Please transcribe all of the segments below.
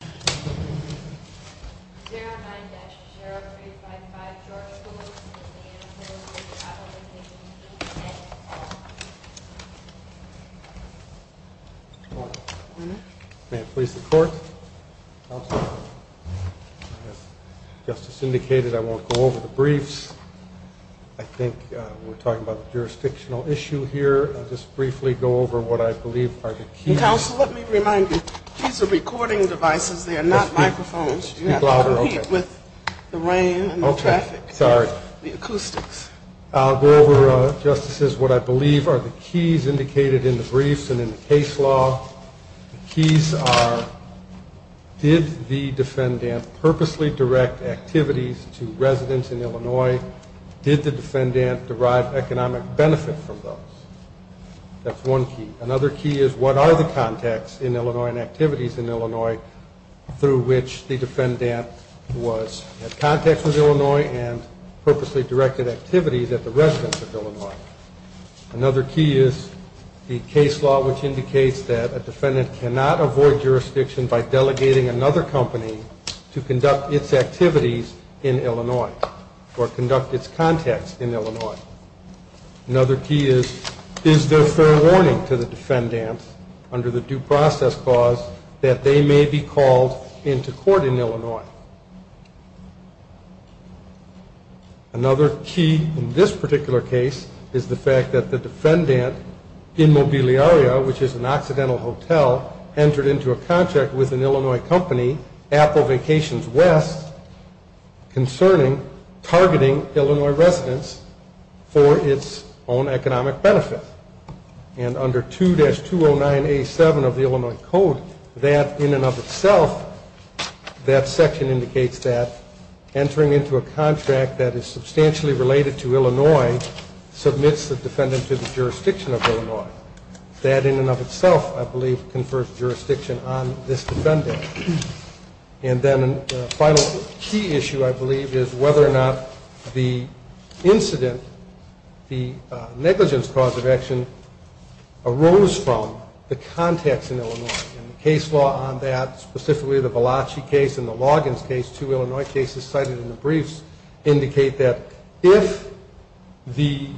0-9-0355 George Poulos and his family travel with me to the E.N.A. Court. May I please the Court? As Justice indicated, I won't go over the briefs. I think we're talking about the jurisdictional issue here. I'll just briefly go over what I believe are the keys. Counsel, let me remind you, these are recording devices. They are not microphones. You have to compete with the rain and the traffic and the acoustics. I'll go over, Justices, what I believe are the keys indicated in the briefs and in the case law. The keys are did the defendant purposely direct activities to residents in Illinois? Did the defendant derive economic benefit from those? That's one key. Another key is what are the contacts in Illinois and activities in Illinois through which the defendant was in contact with Illinois and purposely directed activities at the residents of Illinois? Another key is the case law, which indicates that a defendant cannot avoid jurisdiction by delegating another company to conduct its activities in Illinois or conduct its contacts in Illinois. Another key is is there fair warning to the defendant under the due process clause that they may be called into court in Illinois? Another key in this particular case is the fact that the defendant in Mobiliaria, which is an accidental hotel, entered into a contract with an Illinois company, Apple Vacations West, concerning targeting Illinois residents for its own economic benefit. And under 2-209A7 of the Illinois Code, that in and of itself, that section indicates that entering into a contract that is substantially related to Illinois submits the defendant to the jurisdiction of Illinois. That in and of itself, I believe, confers jurisdiction on this defendant. And then a final key issue, I believe, is whether or not the incident, the negligence cause of action arose from the contacts in Illinois. And the case law on that, specifically the Balachi case and the Loggins case, two Illinois cases cited in the briefs, that if the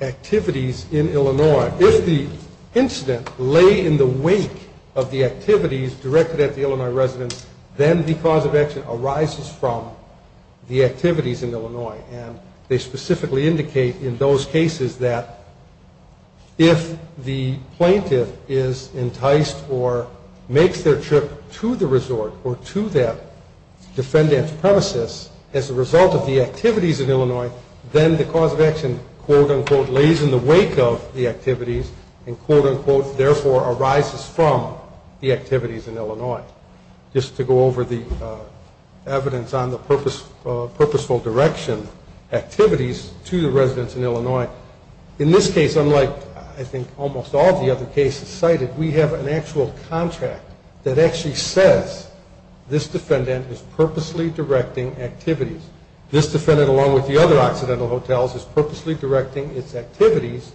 activities in Illinois, if the incident lay in the wake of the activities directed at the Illinois residents, then the cause of action arises from the activities in Illinois. And they specifically indicate in those cases that if the plaintiff is enticed or makes their trip to the resort or to that defendant's premises, as a result of the activities in Illinois, then the cause of action, quote, unquote, lays in the wake of the activities and, quote, unquote, therefore arises from the activities in Illinois. Just to go over the evidence on the purposeful direction activities to the residents in Illinois. In this case, unlike, I think, almost all of the other cases cited, we have an actual contract that actually says this defendant is purposely directing activities. This defendant, along with the other accidental hotels, is purposely directing its activities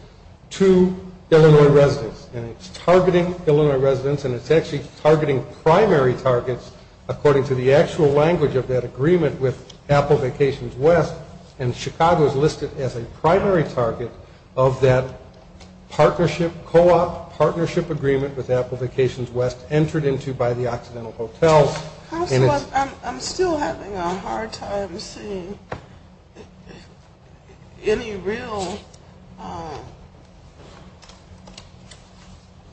to Illinois residents. And it's targeting Illinois residents, and it's actually targeting primary targets, according to the actual language of that agreement with Apple Vacations West. And Chicago is listed as a primary target of that partnership, co-op, partnership agreement with Apple Vacations West entered into by the accidental hotels. I'm still having a hard time seeing any real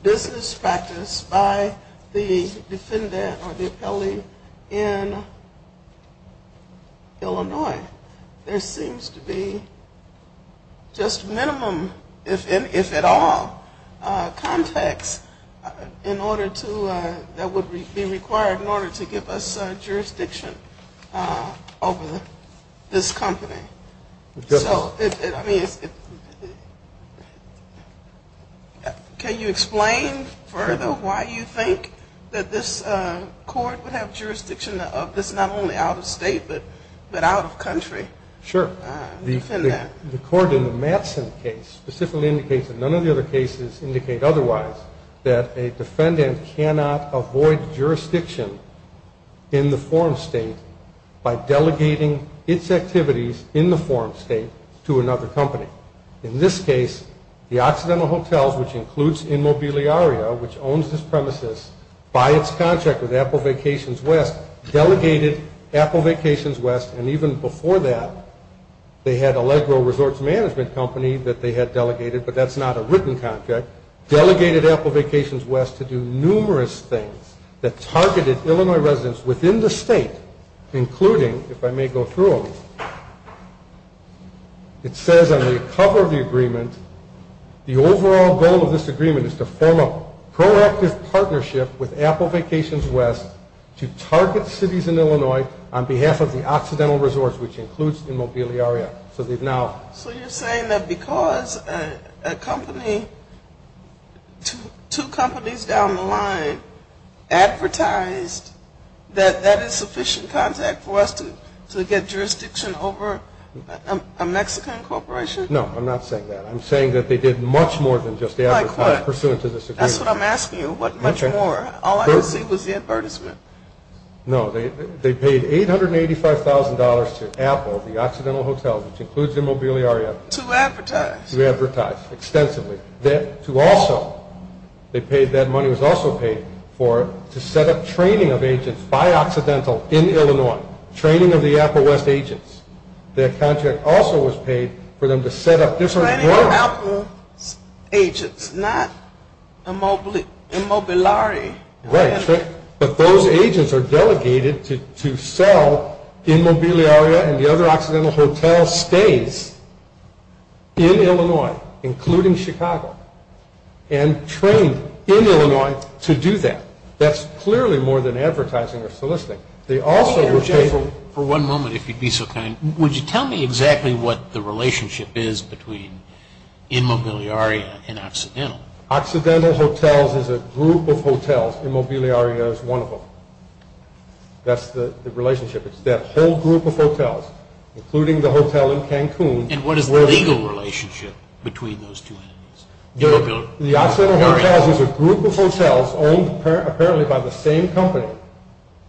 business practice by the defendant or the appellee in Illinois. There seems to be just minimum, if at all, context in order to, that would be required in order to give us jurisdiction over this company. So, I mean, can you explain further why you think that this court would have jurisdiction of this, not only out of state, but out of country? Sure. The court in the Mattson case specifically indicates that none of the other cases indicate otherwise that a defendant cannot avoid jurisdiction in the forum state by delegating its activities in the forum state to another company. In this case, the accidental hotels, which includes Immobiliaria, which owns this premises by its contract with Apple Vacations West, and even before that, they had Allegro Resorts Management Company that they had delegated, but that's not a written contract, delegated Apple Vacations West to do numerous things that targeted Illinois residents within the state, including, if I may go through them, it says on the cover of the agreement, the overall goal of this agreement is to form a proactive partnership with Apple Vacations West to target cities in Illinois on behalf of the accidental resorts, which includes Immobiliaria. So you're saying that because a company, two companies down the line, advertised that that is sufficient contact for us to get jurisdiction over a Mexican corporation? No, I'm not saying that. I'm saying that they did much more than just advertise, pursuant to this agreement. That's what I'm asking you. What much more? All I could see was the advertisement. No. They paid $885,000 to Apple, the accidental hotels, which includes Immobiliaria. To advertise. To advertise extensively. To also, they paid, that money was also paid for to set up training of agents by accidental in Illinois, training of the Apple West agents. Their contract also was paid for them to set up different groups. Apple agents, not Immobiliari. Right, but those agents are delegated to sell Immobiliaria and the other accidental hotel stays in Illinois, including Chicago, and trained in Illinois to do that. That's clearly more than advertising or soliciting. They also were paid for. For one moment, if you'd be so kind, would you tell me exactly what the relationship is between Immobiliaria and Occidental? Occidental Hotels is a group of hotels. Immobiliaria is one of them. That's the relationship. It's that whole group of hotels, including the hotel in Cancun. And what is the legal relationship between those two entities? The Occidental Hotels is a group of hotels owned apparently by the same company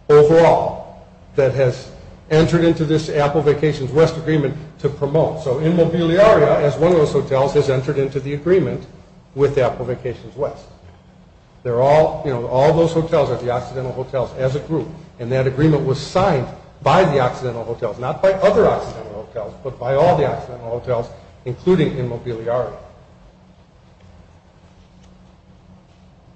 overall that has entered into this Apple Vacations West agreement to promote. So Immobiliaria, as one of those hotels, has entered into the agreement with Apple Vacations West. All those hotels are the Occidental Hotels as a group, and that agreement was signed by the Occidental Hotels, not by other Occidental Hotels, but by all the Occidental Hotels, including Immobiliaria.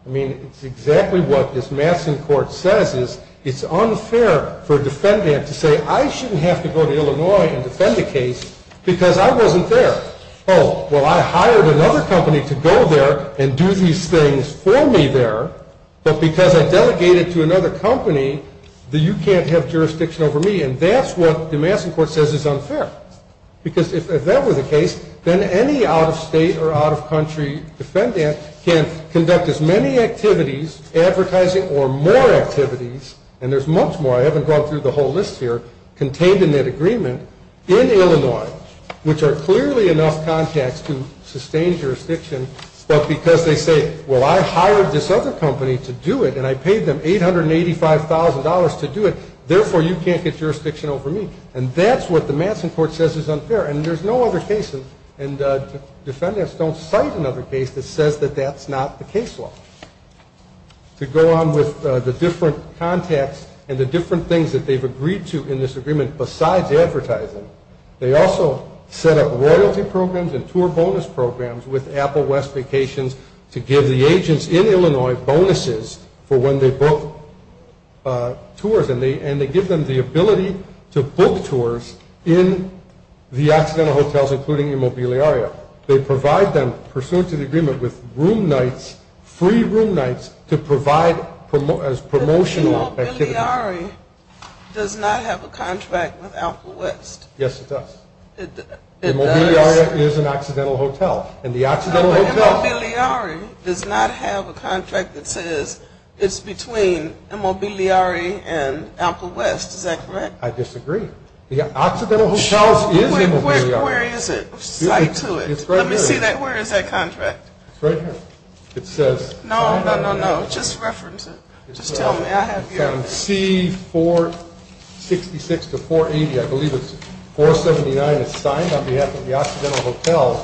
I mean, it's exactly what this Masson Court says is it's unfair for a defendant to say, I shouldn't have to go to Illinois and defend a case because I wasn't there. Oh, well, I hired another company to go there and do these things for me there, but because I delegated to another company, you can't have jurisdiction over me. And that's what the Masson Court says is unfair. Because if that were the case, then any out-of-state or out-of-country defendant can conduct as many activities, advertising or more activities, and there's much more, I haven't gone through the whole list here, contained in that agreement in Illinois, which are clearly enough contacts to sustain jurisdiction, but because they say, well, I hired this other company to do it, and I paid them $885,000 to do it, therefore you can't get jurisdiction over me. And that's what the Masson Court says is unfair. And there's no other case, and defendants don't cite another case that says that that's not the case law. To go on with the different contacts and the different things that they've agreed to in this agreement besides advertising, they also set up royalty programs and tour bonus programs with Apple West Vacations to give the agents in Illinois bonuses for when they book tours, and they give them the ability to book tours in the Occidental hotels, including Immobiliaria. They provide them, pursuant to the agreement, with room nights, free room nights, to provide as promotional activities. But Immobiliaria does not have a contract with Apple West. Yes, it does. It does. Immobiliaria is an Occidental hotel, and the Occidental hotel... does not have a contract that says it's between Immobiliaria and Apple West. Is that correct? I disagree. The Occidental hotel is Immobiliaria. Where is it? Cite to it. Let me see that. Where is that contract? It's right here. It says... No, no, no, no. Just reference it. Just tell me. I have your... It's on C-466 to 480. I believe it's 479. It's signed on behalf of the Occidental hotel,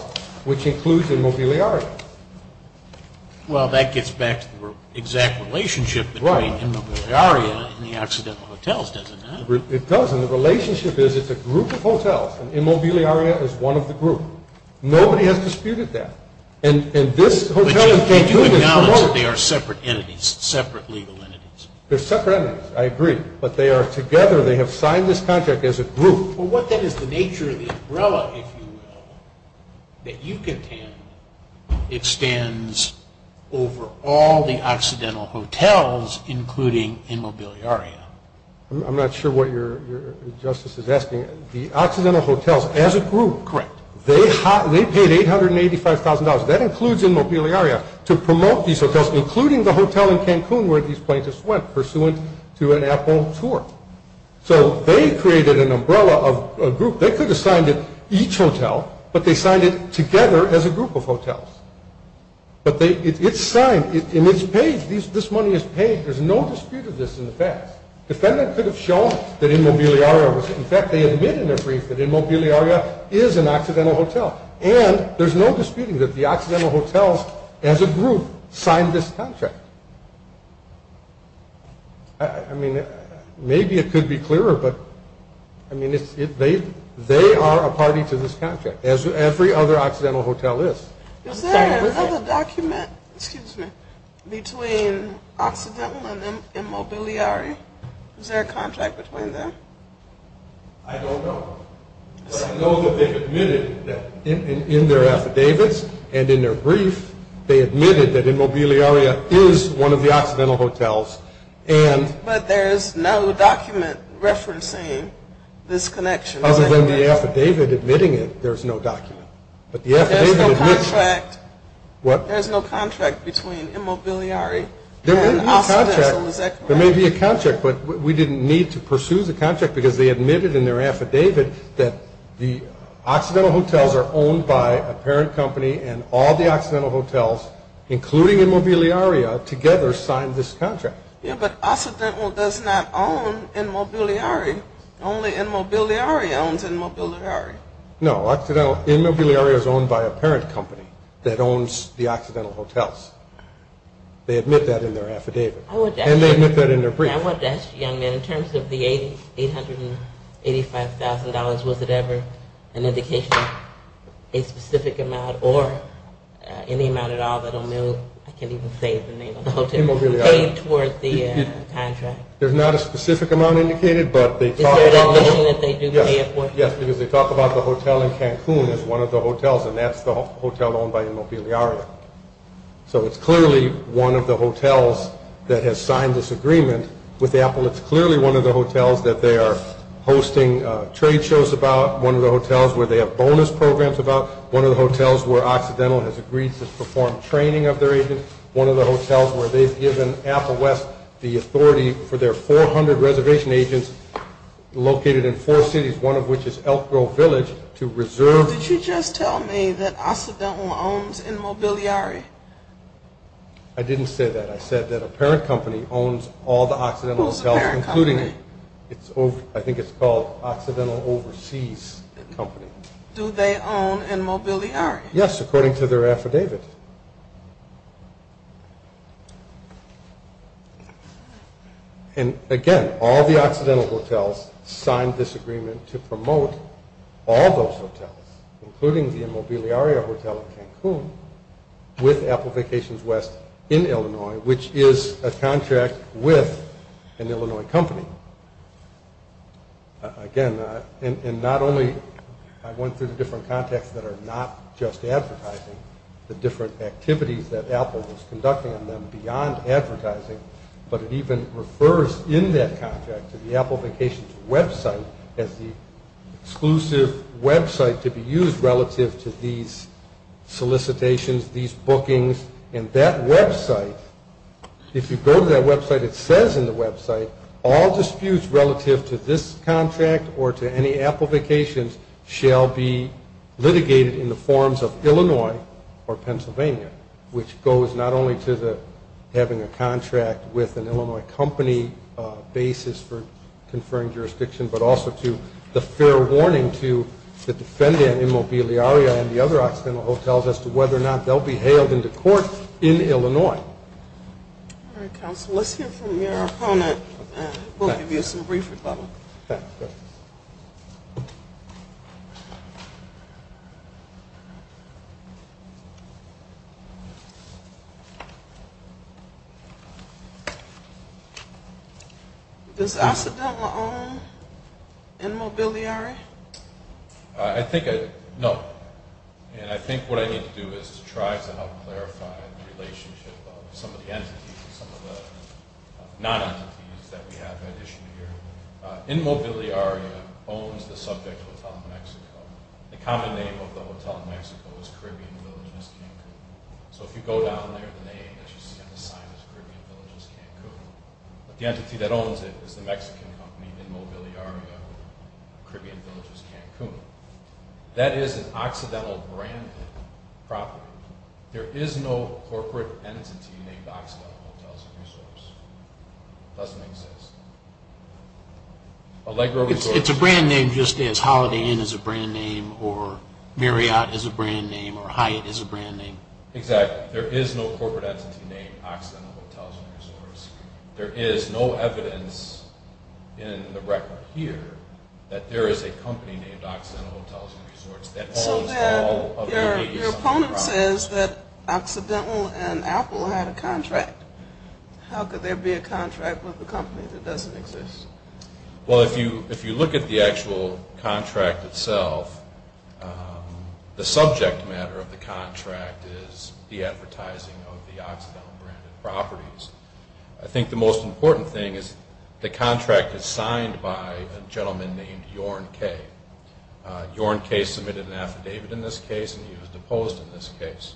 which includes Immobiliaria. Well, that gets back to the exact relationship between Immobiliaria and the Occidental hotels, doesn't it? It does. And the relationship is it's a group of hotels, and Immobiliaria is one of the group. Nobody has disputed that. And this hotel... But you acknowledge that they are separate entities, separate legal entities. They're separate entities. I agree. But they are together. They have signed this contract as a group. Well, what then is the nature of the umbrella, if you will, that you contain, extends over all the Occidental hotels, including Immobiliaria? I'm not sure what your justice is asking. The Occidental hotels, as a group... Correct. They paid $885,000, that includes Immobiliaria, to promote these hotels, including the hotel in Cancun where these plaintiffs went, pursuant to an Apple tour. So they created an umbrella of a group. They could have signed it each hotel, but they signed it together as a group of hotels. But it's signed, and it's paid. This money is paid. There's no dispute of this in the past. Defendant could have shown that Immobiliaria was... In fact, they admit in their brief that Immobiliaria is an Occidental hotel. And there's no disputing that the Occidental hotels, as a group, signed this contract. I mean, maybe it could be clearer, but they are a party to this contract, as every other Occidental hotel is. Is there another document between Occidental and Immobiliaria? Is there a contract between them? I don't know. I know that they've admitted that in their affidavits and in their brief, they admitted that Immobiliaria is one of the Occidental hotels, and... But there's no document referencing this connection. Other than the affidavit admitting it, there's no document. But the affidavit admits... There's no contract. What? There's no contract between Immobiliaria and Occidental, is that correct? There may be a contract, but we didn't need to pursue the contract, because they admitted in their affidavit that the Occidental hotels are owned by a parent company and all the Occidental hotels, including Immobiliaria, together signed this contract. Yeah, but Occidental does not own Immobiliaria. Only Immobiliaria owns Immobiliaria. No, Immobiliaria is owned by a parent company that owns the Occidental hotels. They admit that in their affidavit. And they admit that in their brief. I wanted to ask you, young man, in terms of the $885,000, was it ever an indication of a specific amount or any amount at all that O'Mill, I can't even say the name of the hotel, paid toward the contract? There's not a specific amount indicated, but they talk about the hotel in Cancun as one of the hotels, and that's the hotel owned by Immobiliaria. So it's clearly one of the hotels that has signed this agreement with Apple. It's clearly one of the hotels that they are hosting trade shows about, one of the hotels where they have bonus programs about, one of the hotels where Occidental has agreed to perform training of their agents, one of the hotels where they've given Apple West the authority for their 400 reservation agents located in four cities, one of which is Elk Grove Village, to reserve. Did you just tell me that Occidental owns Immobiliaria? I didn't say that. I said that a parent company owns all the Occidental hotels, including, I think it's called Occidental Overseas Company. Do they own Immobiliaria? Yes, according to their affidavit. And, again, all the Occidental hotels signed this agreement to promote all those hotels, including the Immobiliaria Hotel in Cancun, with Apple Vacations West in Illinois, which is a contract with an Illinois company. Again, and not only, I went through the different contacts that are not just advertising, the different activities that Apple was conducting on them beyond advertising, but it even refers in that contract to the Apple Vacations website as the exclusive website to be used relative to these solicitations, these bookings, and that website, if you go to that website, it says in the website, that all disputes relative to this contract or to any Apple Vacations shall be litigated in the forms of Illinois or Pennsylvania, which goes not only to having a contract with an Illinois company basis for conferring jurisdiction, but also to the fair warning to the defendant in Immobiliaria and the other Occidental hotels as to whether or not they'll be hailed into court in Illinois. All right, counsel, let's hear from your opponent, and we'll give you some brief rebuttal. Does Occidental own Immobiliaria? I think, no, and I think what I need to do is try to help clarify the relationship of some of the entities and some of the non-entities that we have at issue here. Immobiliaria owns the subject Hotel Mexico. The common name of the Hotel Mexico is Caribbean Villages Cancun, so if you go down there, the name that you see on the sign is Caribbean Villages Cancun, but the entity that owns it is the Mexican company, Immobiliaria, Caribbean Villages Cancun. That is an Occidental-branded property. There is no corporate entity named Occidental Hotels and Resorts. It doesn't exist. It's a brand name just as Holiday Inn is a brand name or Marriott is a brand name or Hyatt is a brand name. Exactly. There is no corporate entity named Occidental Hotels and Resorts. There is no evidence in the record here that there is a company named Occidental Hotels and Resorts that owns all of the ladies in the restaurant. Your opponent says that Occidental and Apple had a contract. How could there be a contract with a company that doesn't exist? Well, if you look at the actual contract itself, the subject matter of the contract is the advertising of the Occidental-branded properties. I think the most important thing is the contract is signed by a gentleman named Yorn Kay. Yorn Kay submitted an affidavit in this case and he was deposed in this case.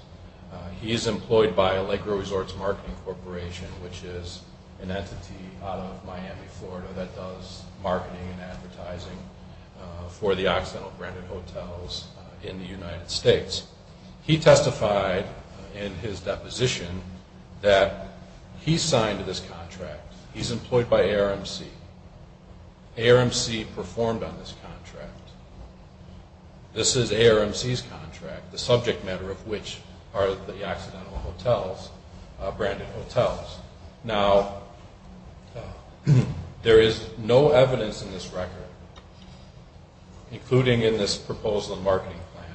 He is employed by Allegro Resorts Marketing Corporation, which is an entity out of Miami, Florida that does marketing and advertising for the Occidental-branded hotels in the United States. He testified in his deposition that he signed this contract. He is employed by ARMC. ARMC performed on this contract. This is ARMC's contract, the subject matter of which are the Occidental-branded hotels. Now, there is no evidence in this record, including in this proposal and marketing plan,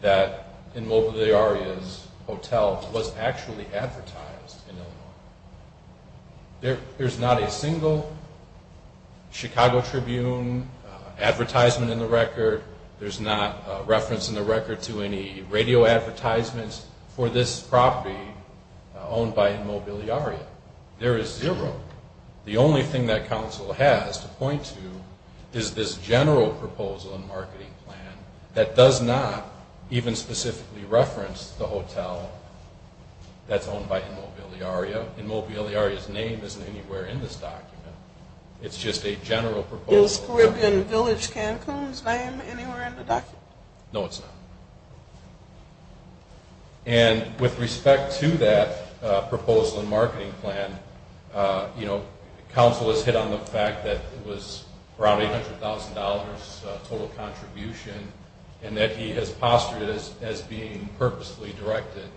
that Inmobiliaria's hotel was actually advertised in Illinois. There's not a single Chicago Tribune advertisement in the record. There's not a reference in the record to any radio advertisements for this property owned by Inmobiliaria. There is zero. The only thing that counsel has to point to is this general proposal and marketing plan that does not even specifically reference the hotel that's owned by Inmobiliaria. Inmobiliaria's name isn't anywhere in this document. It's just a general proposal. Is Caribbean Village Cancun's name anywhere in the document? No, it's not. And with respect to that proposal and marketing plan, counsel has hit on the fact that it was around $800,000 total contribution and that he has postured it as being purposely directed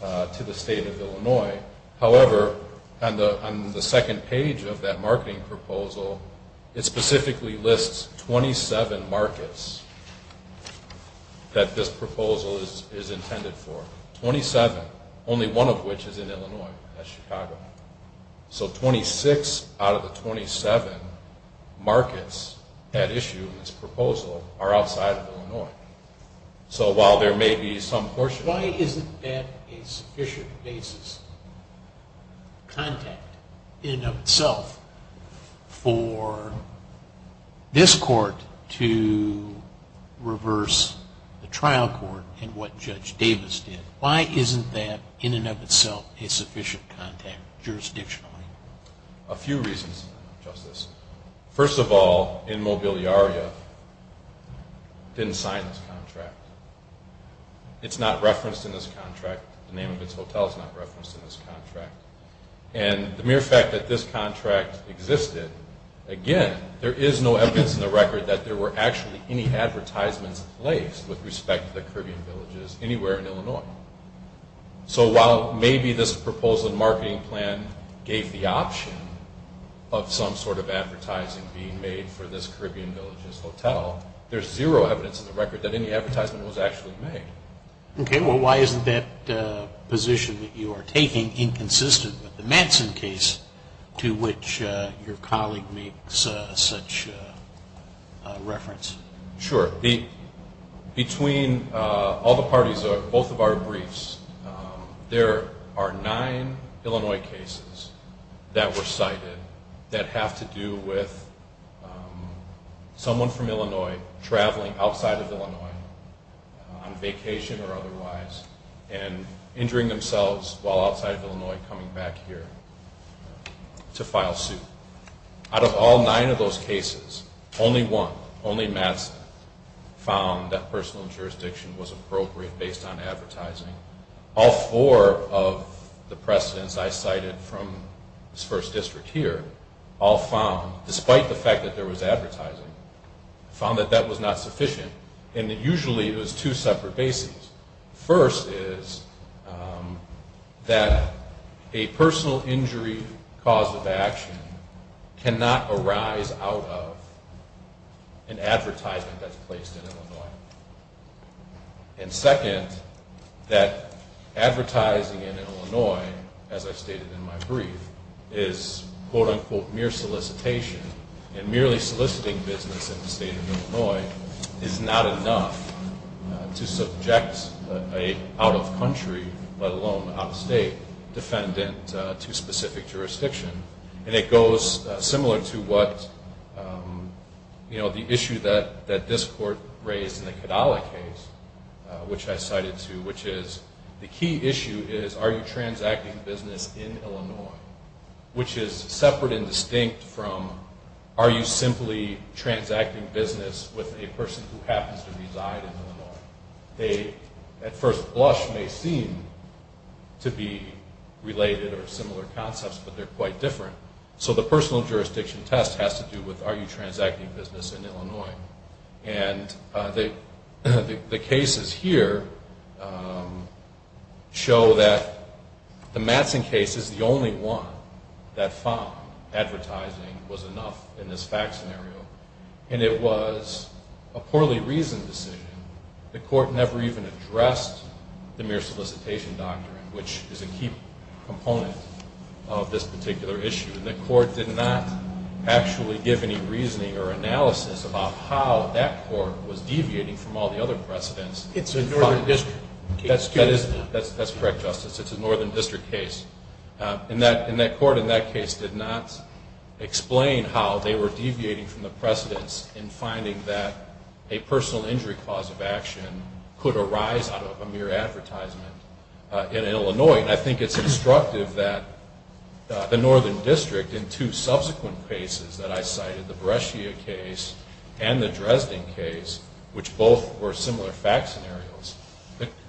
to the state of Illinois. However, on the second page of that marketing proposal, it specifically lists 27 markets that this proposal is intended for. Twenty-seven. Only one of which is in Illinois. That's Chicago. So 26 out of the 27 markets that issue this proposal are outside of Illinois. So while there may be some portion... Why isn't that in and of itself a sufficient contact jurisdictionally? A few reasons, Justice. First of all, Inmobiliaria didn't sign this contract. It's not referenced in this contract. The name of its hotel is not referenced in this contract. And the mere fact that this contract existed, again, there is no evidence in the record that there were actually any advertisements placed with respect to the Caribbean Villages anywhere in Illinois. So while maybe this proposal and marketing plan gave the option of some sort of advertising being made for this Caribbean Villages hotel, there's zero evidence in the record that any advertisement was actually made. Okay. Well, why isn't that position that you are taking inconsistent with the Manson case to which your colleague makes such reference? Sure. Between all the parties of both of our briefs, there are nine Illinois cases that were cited that have to do with someone from Illinois traveling outside of Illinois on vacation or otherwise and injuring themselves while outside of Illinois coming back here to file suit. Out of all nine of those cases, only one, only Manson, found that personal jurisdiction was appropriate based on advertising. All four of the precedents I cited from this first district here, all found, despite the fact that there was advertising, found that that was not sufficient and that usually it was two separate bases. First is that a personal injury cause of action cannot arise out of an advertisement that's placed in Illinois. And second, that advertising in Illinois, as I stated in my brief, is quote, unquote, mere solicitation, and merely soliciting business in the state of Illinois is not enough to subject an out-of-country, let alone out-of-state, defendant to specific jurisdiction. And it goes similar to what, you know, the issue that this court raised in the Cadala case, which I cited too, which is the key issue is are you transacting business in Illinois, which is separate and distinct from are you simply transacting business with a person who happens to reside in Illinois. At first blush may seem to be related or similar concepts, but they're quite different. So the personal jurisdiction test has to do with are you transacting business in Illinois. And the cases here show that the Manson case is the only one that found advertising was enough in this fact scenario. And it was a poorly reasoned decision. The court never even addressed the mere solicitation doctrine, which is a key component of this particular issue. And the court did not actually give any reasoning or analysis about how that court was deviating from all the other precedents. It's a northern district case. That's correct, Justice. It's a northern district case. And that court in that case did not explain how they were deviating from the precedents in finding that a personal injury cause of action could arise out of a mere advertisement in Illinois. And I think it's instructive that the northern district in two subsequent cases that I cited, the Brescia case and the Dresden case, which both were similar fact scenarios,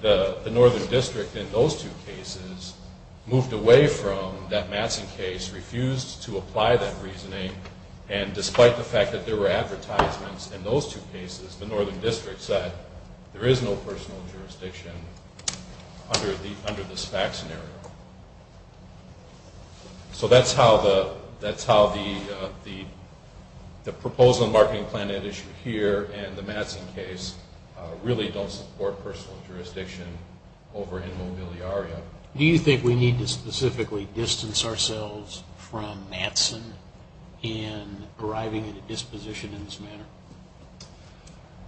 the northern district in those two cases moved away from that Manson case, refused to apply that reasoning. And despite the fact that there were advertisements in those two cases, the northern district said there is no personal jurisdiction under this fact scenario. So that's how the proposal and marketing plan at issue here and the Manson case really don't support personal jurisdiction over in Mobiliaria. Do you think we need to specifically distance ourselves from Manson in arriving at a disposition in this manner?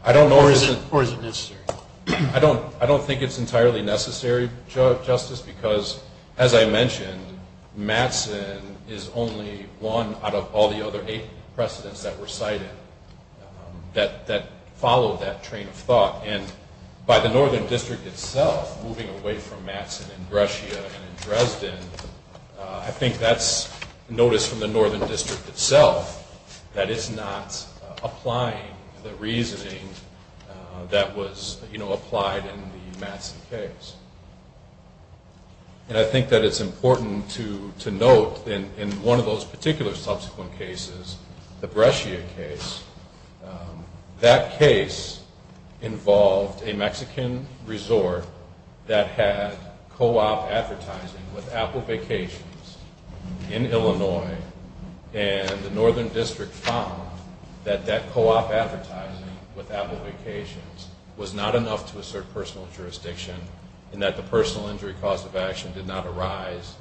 I don't know. Or is it necessary? I don't think it's entirely necessary, Justice, because as I mentioned, Manson is only one out of all the other eight precedents that were cited that follow that train of thought. And by the northern district itself moving away from Manson in Brescia and in Dresden, I think that's notice from the northern district itself that it's not applying the reasoning that was applied in the Manson case. And I think that it's important to note in one of those particular subsequent cases, the Brescia case, that case involved a Mexican resort that had co-op advertising with Apple Vacations in Illinois, and the northern district found that that co-op advertising with Apple Vacations was not enough to assert personal jurisdiction in that the personal injury cause of action did not arise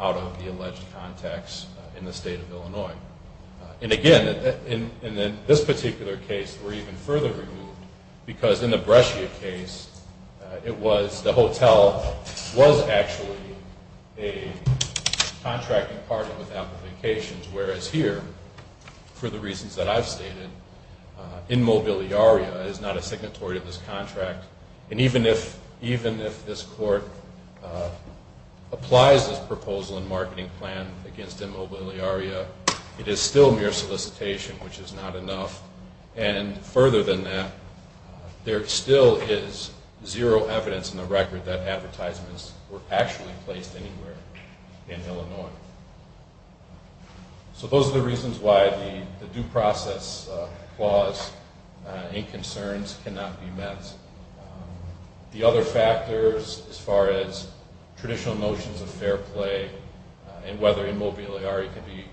out of the alleged contacts in the state of Illinois. And again, in this particular case, we're even further removed, because in the Brescia case, it was the hotel was actually a contracting partner with Apple Vacations, whereas here, for the reasons that I've stated, in Mobiliaria is not a signatory of this contract. And even if this court applies this proposal and marketing plan against Immobiliaria, it is still mere solicitation, which is not enough. And further than that, there still is zero evidence in the record that advertisements were actually placed anywhere in Illinois. So those are the reasons why the due process clause in concerns cannot be met. The other factors as far as traditional notions of fair play and whether Immobiliaria can be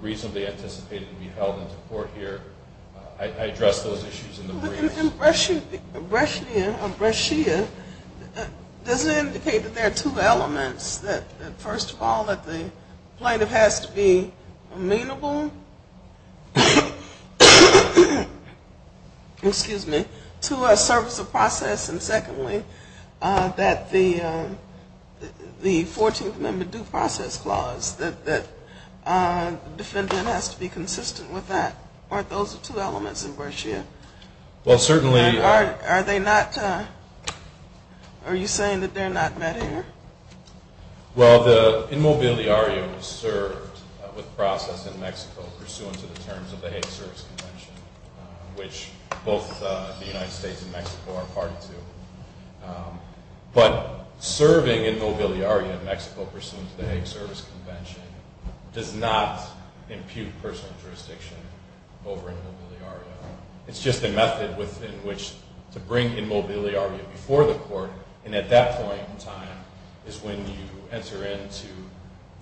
reasonably anticipated to be held into court here, I addressed those issues in the briefs. In Brescia, does it indicate that there are two elements, that first of all that the plaintiff has to be amenable to a service of process, and secondly, that the 14th Amendment due process clause, that the defendant has to be consistent with that? Aren't those the two elements in Brescia? Well, certainly. Are they not, are you saying that they're not met here? Well, the Immobiliaria was served with process in Mexico pursuant to the terms of the Hague Service Convention, which both the United States and Mexico are a party to. But serving Immobiliaria in Mexico pursuant to the Hague Service Convention does not impute personal jurisdiction over Immobiliaria. It's just a method in which to bring Immobiliaria before the court, and at that point in time is when you enter into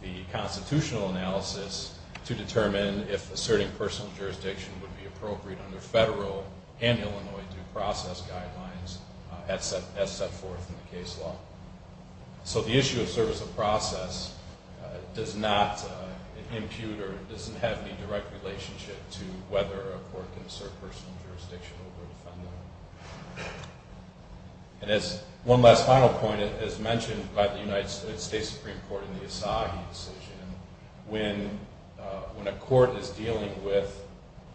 the constitutional analysis to determine if asserting personal jurisdiction would be appropriate under federal and Illinois due process guidelines as set forth in the case law. So the issue of service of process does not impute or doesn't have any direct relationship to whether a court can assert personal jurisdiction over a defendant. And as one last final point, as mentioned by the United States Supreme Court in the Asahi decision, when a court is dealing with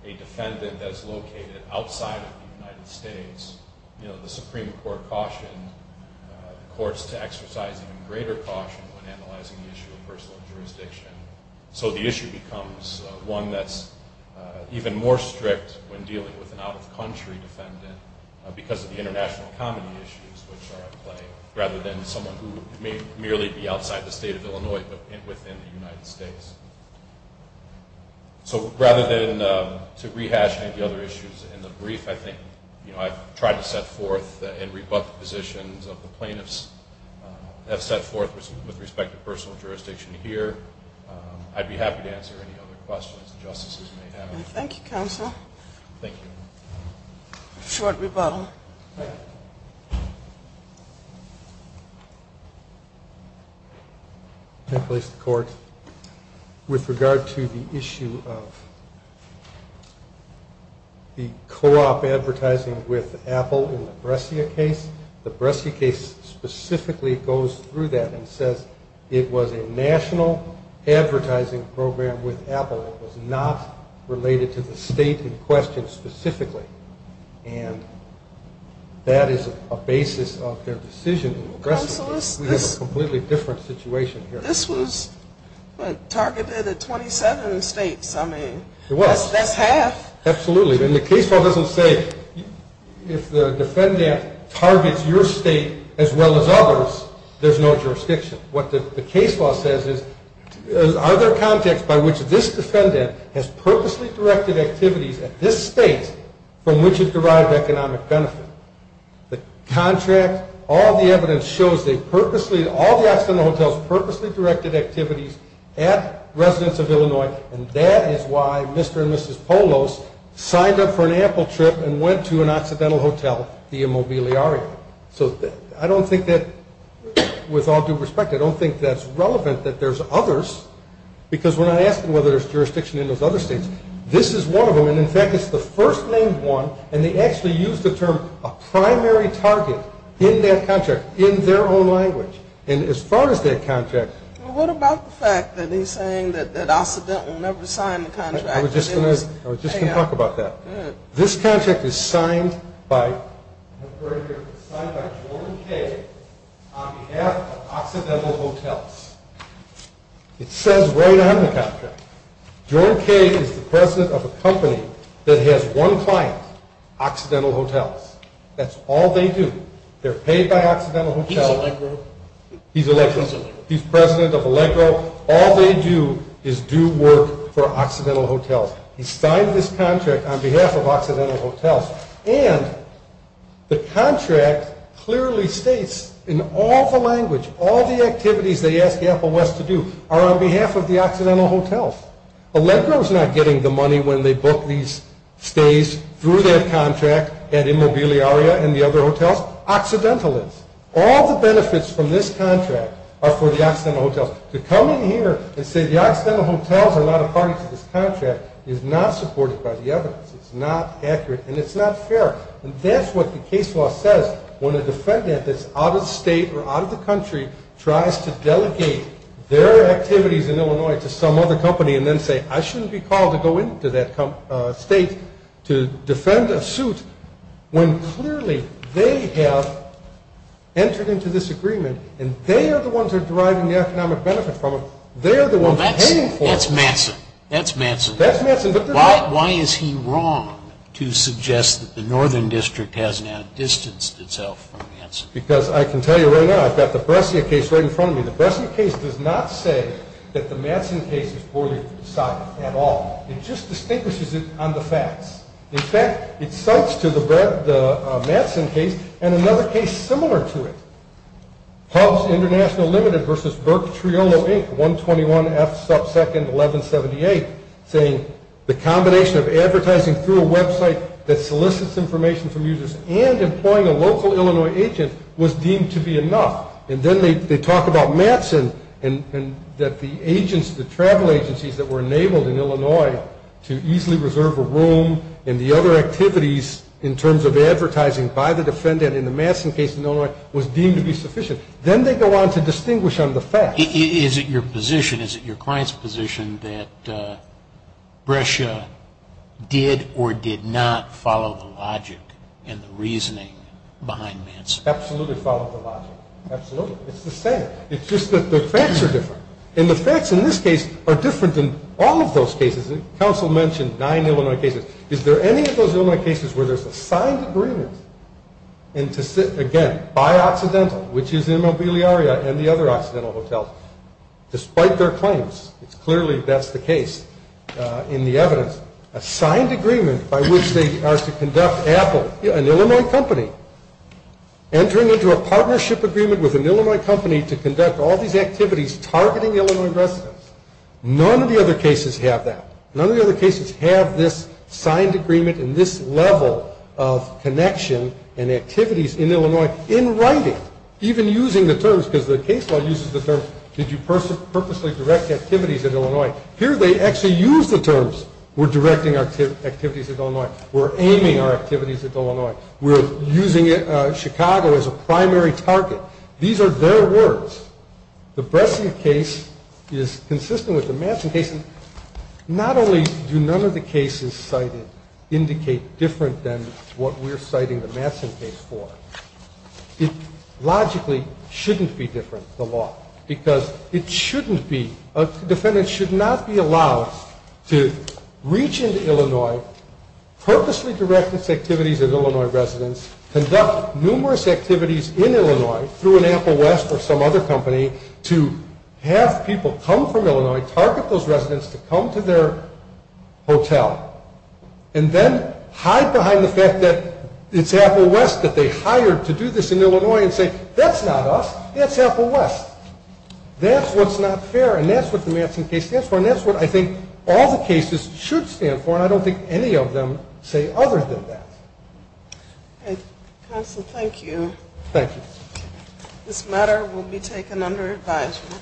a defendant that is located outside of the United States, the Supreme Court cautioned courts to exercise even greater caution when analyzing the issue of personal jurisdiction. So the issue becomes one that's even more strict when dealing with an out-of-country defendant because of the international economy issues which are at play, rather than someone who may merely be outside the state of Illinois but within the United States. So rather than to rehash any of the other issues in the brief, I think I've tried to set forth and rebut the positions of the plaintiffs that I've set forth with respect to personal jurisdiction here. I'd be happy to answer any other questions the justices may have. Thank you, counsel. Thank you. A short rebuttal. With regard to the issue of the co-op advertising with Apple in the Brescia case, the Brescia case specifically goes through that and says it was a national advertising program with Apple. It was not related to the state in question specifically. And that is a basis of their decision in the Brescia case. We have a completely different situation here. This was targeted at 27 states. I mean, that's half. Absolutely. And the case law doesn't say if the defendant targets your state as well as others, there's no jurisdiction. What the case law says is are there contexts by which this defendant has purposely directed activities at this state from which it derived economic benefit. The contract, all the evidence shows they purposely, all the accidental hotels purposely directed activities at residents of Illinois, and that is why Mr. and Mrs. Polos signed up for an Apple trip and went to an accidental hotel, the Immobiliario. So I don't think that, with all due respect, I don't think that's relevant that there's others, because we're not asking whether there's jurisdiction in those other states. This is one of them, and, in fact, it's the first named one, and they actually used the term a primary target in that contract in their own language. And as far as that contract. Well, what about the fact that he's saying that Occidental never signed the contract? I was just going to talk about that. This contract is signed by Jordan Kay on behalf of Occidental Hotels. It says right on the contract, Jordan Kay is the president of a company that has one client, Occidental Hotels. That's all they do. They're paid by Occidental Hotels. He's a Legro. He's a Legro. He's a Legro. He's president of a Legro. All they do is do work for Occidental Hotels. He signed this contract on behalf of Occidental Hotels, and the contract clearly states in all the language, all the activities they ask Apple West to do are on behalf of the Occidental Hotels. Legro is not getting the money when they book these stays through their contract at Immobiliaria and the other hotels. Occidental is. All the benefits from this contract are for the Occidental Hotels. To come in here and say the Occidental Hotels are not a party to this contract is not supported by the evidence. It's not accurate, and it's not fair. And that's what the case law says when a defendant that's out of state or out of the country tries to delegate their activities in Illinois to some other company and then say, I shouldn't be called to go into that state to defend a suit when clearly they have entered into this agreement, and they are the ones who are deriving the economic benefit from it. They are the ones paying for it. That's Matson. That's Matson. That's Matson. Why is he wrong to suggest that the Northern District has now distanced itself from Matson? Because I can tell you right now, I've got the Brescia case right in front of me. The Brescia case does not say that the Matson case is poorly decided at all. It just distinguishes it on the facts. In fact, it cites to the Matson case and another case similar to it, Hubs International Limited v. Burke Triolo Inc., 121F sub 2nd 1178, saying the combination of advertising through a website that solicits information from users and employing a local Illinois agent was deemed to be enough. And then they talk about Matson and that the agents, the travel agencies that were enabled in Illinois to easily reserve a room and the other activities in terms of advertising by the defendant in the Matson case in Illinois was deemed to be sufficient. Then they go on to distinguish on the facts. Is it your position, is it your client's position that Brescia did or did not follow the logic and the reasoning behind Matson? Absolutely followed the logic. Absolutely. It's the same. It's just that the facts are different. And the facts in this case are different than all of those cases. The counsel mentioned nine Illinois cases. Is there any of those Illinois cases where there's a signed agreement and, again, by Occidental, which is Immobiliaria and the other Occidental hotels, despite their claims, it's clearly that's the case in the evidence, a signed agreement by which they are to conduct Apple, an Illinois company, entering into a partnership agreement with an Illinois company to conduct all these activities targeting Illinois residents. None of the other cases have that. Signed agreement in this level of connection and activities in Illinois in writing, even using the terms because the case law uses the terms, did you purposely direct activities at Illinois? Here they actually use the terms. We're directing activities at Illinois. We're aiming our activities at Illinois. We're using Chicago as a primary target. These are their words. The Brescia case is consistent with the Matson case. Not only do none of the cases cited indicate different than what we're citing the Matson case for, it logically shouldn't be different, the law, because it shouldn't be, a defendant should not be allowed to reach into Illinois, purposely direct its activities at Illinois residents, conduct numerous activities in Illinois through an Apple West or some other company to have people come from Illinois, target those residents to come to their hotel, and then hide behind the fact that it's Apple West that they hired to do this in Illinois and say that's not us, that's Apple West. That's what's not fair, and that's what the Matson case stands for, and that's what I think all the cases should stand for, and I don't think any of them say other than that. Counsel, thank you. Thank you. This matter will be taken under advisement.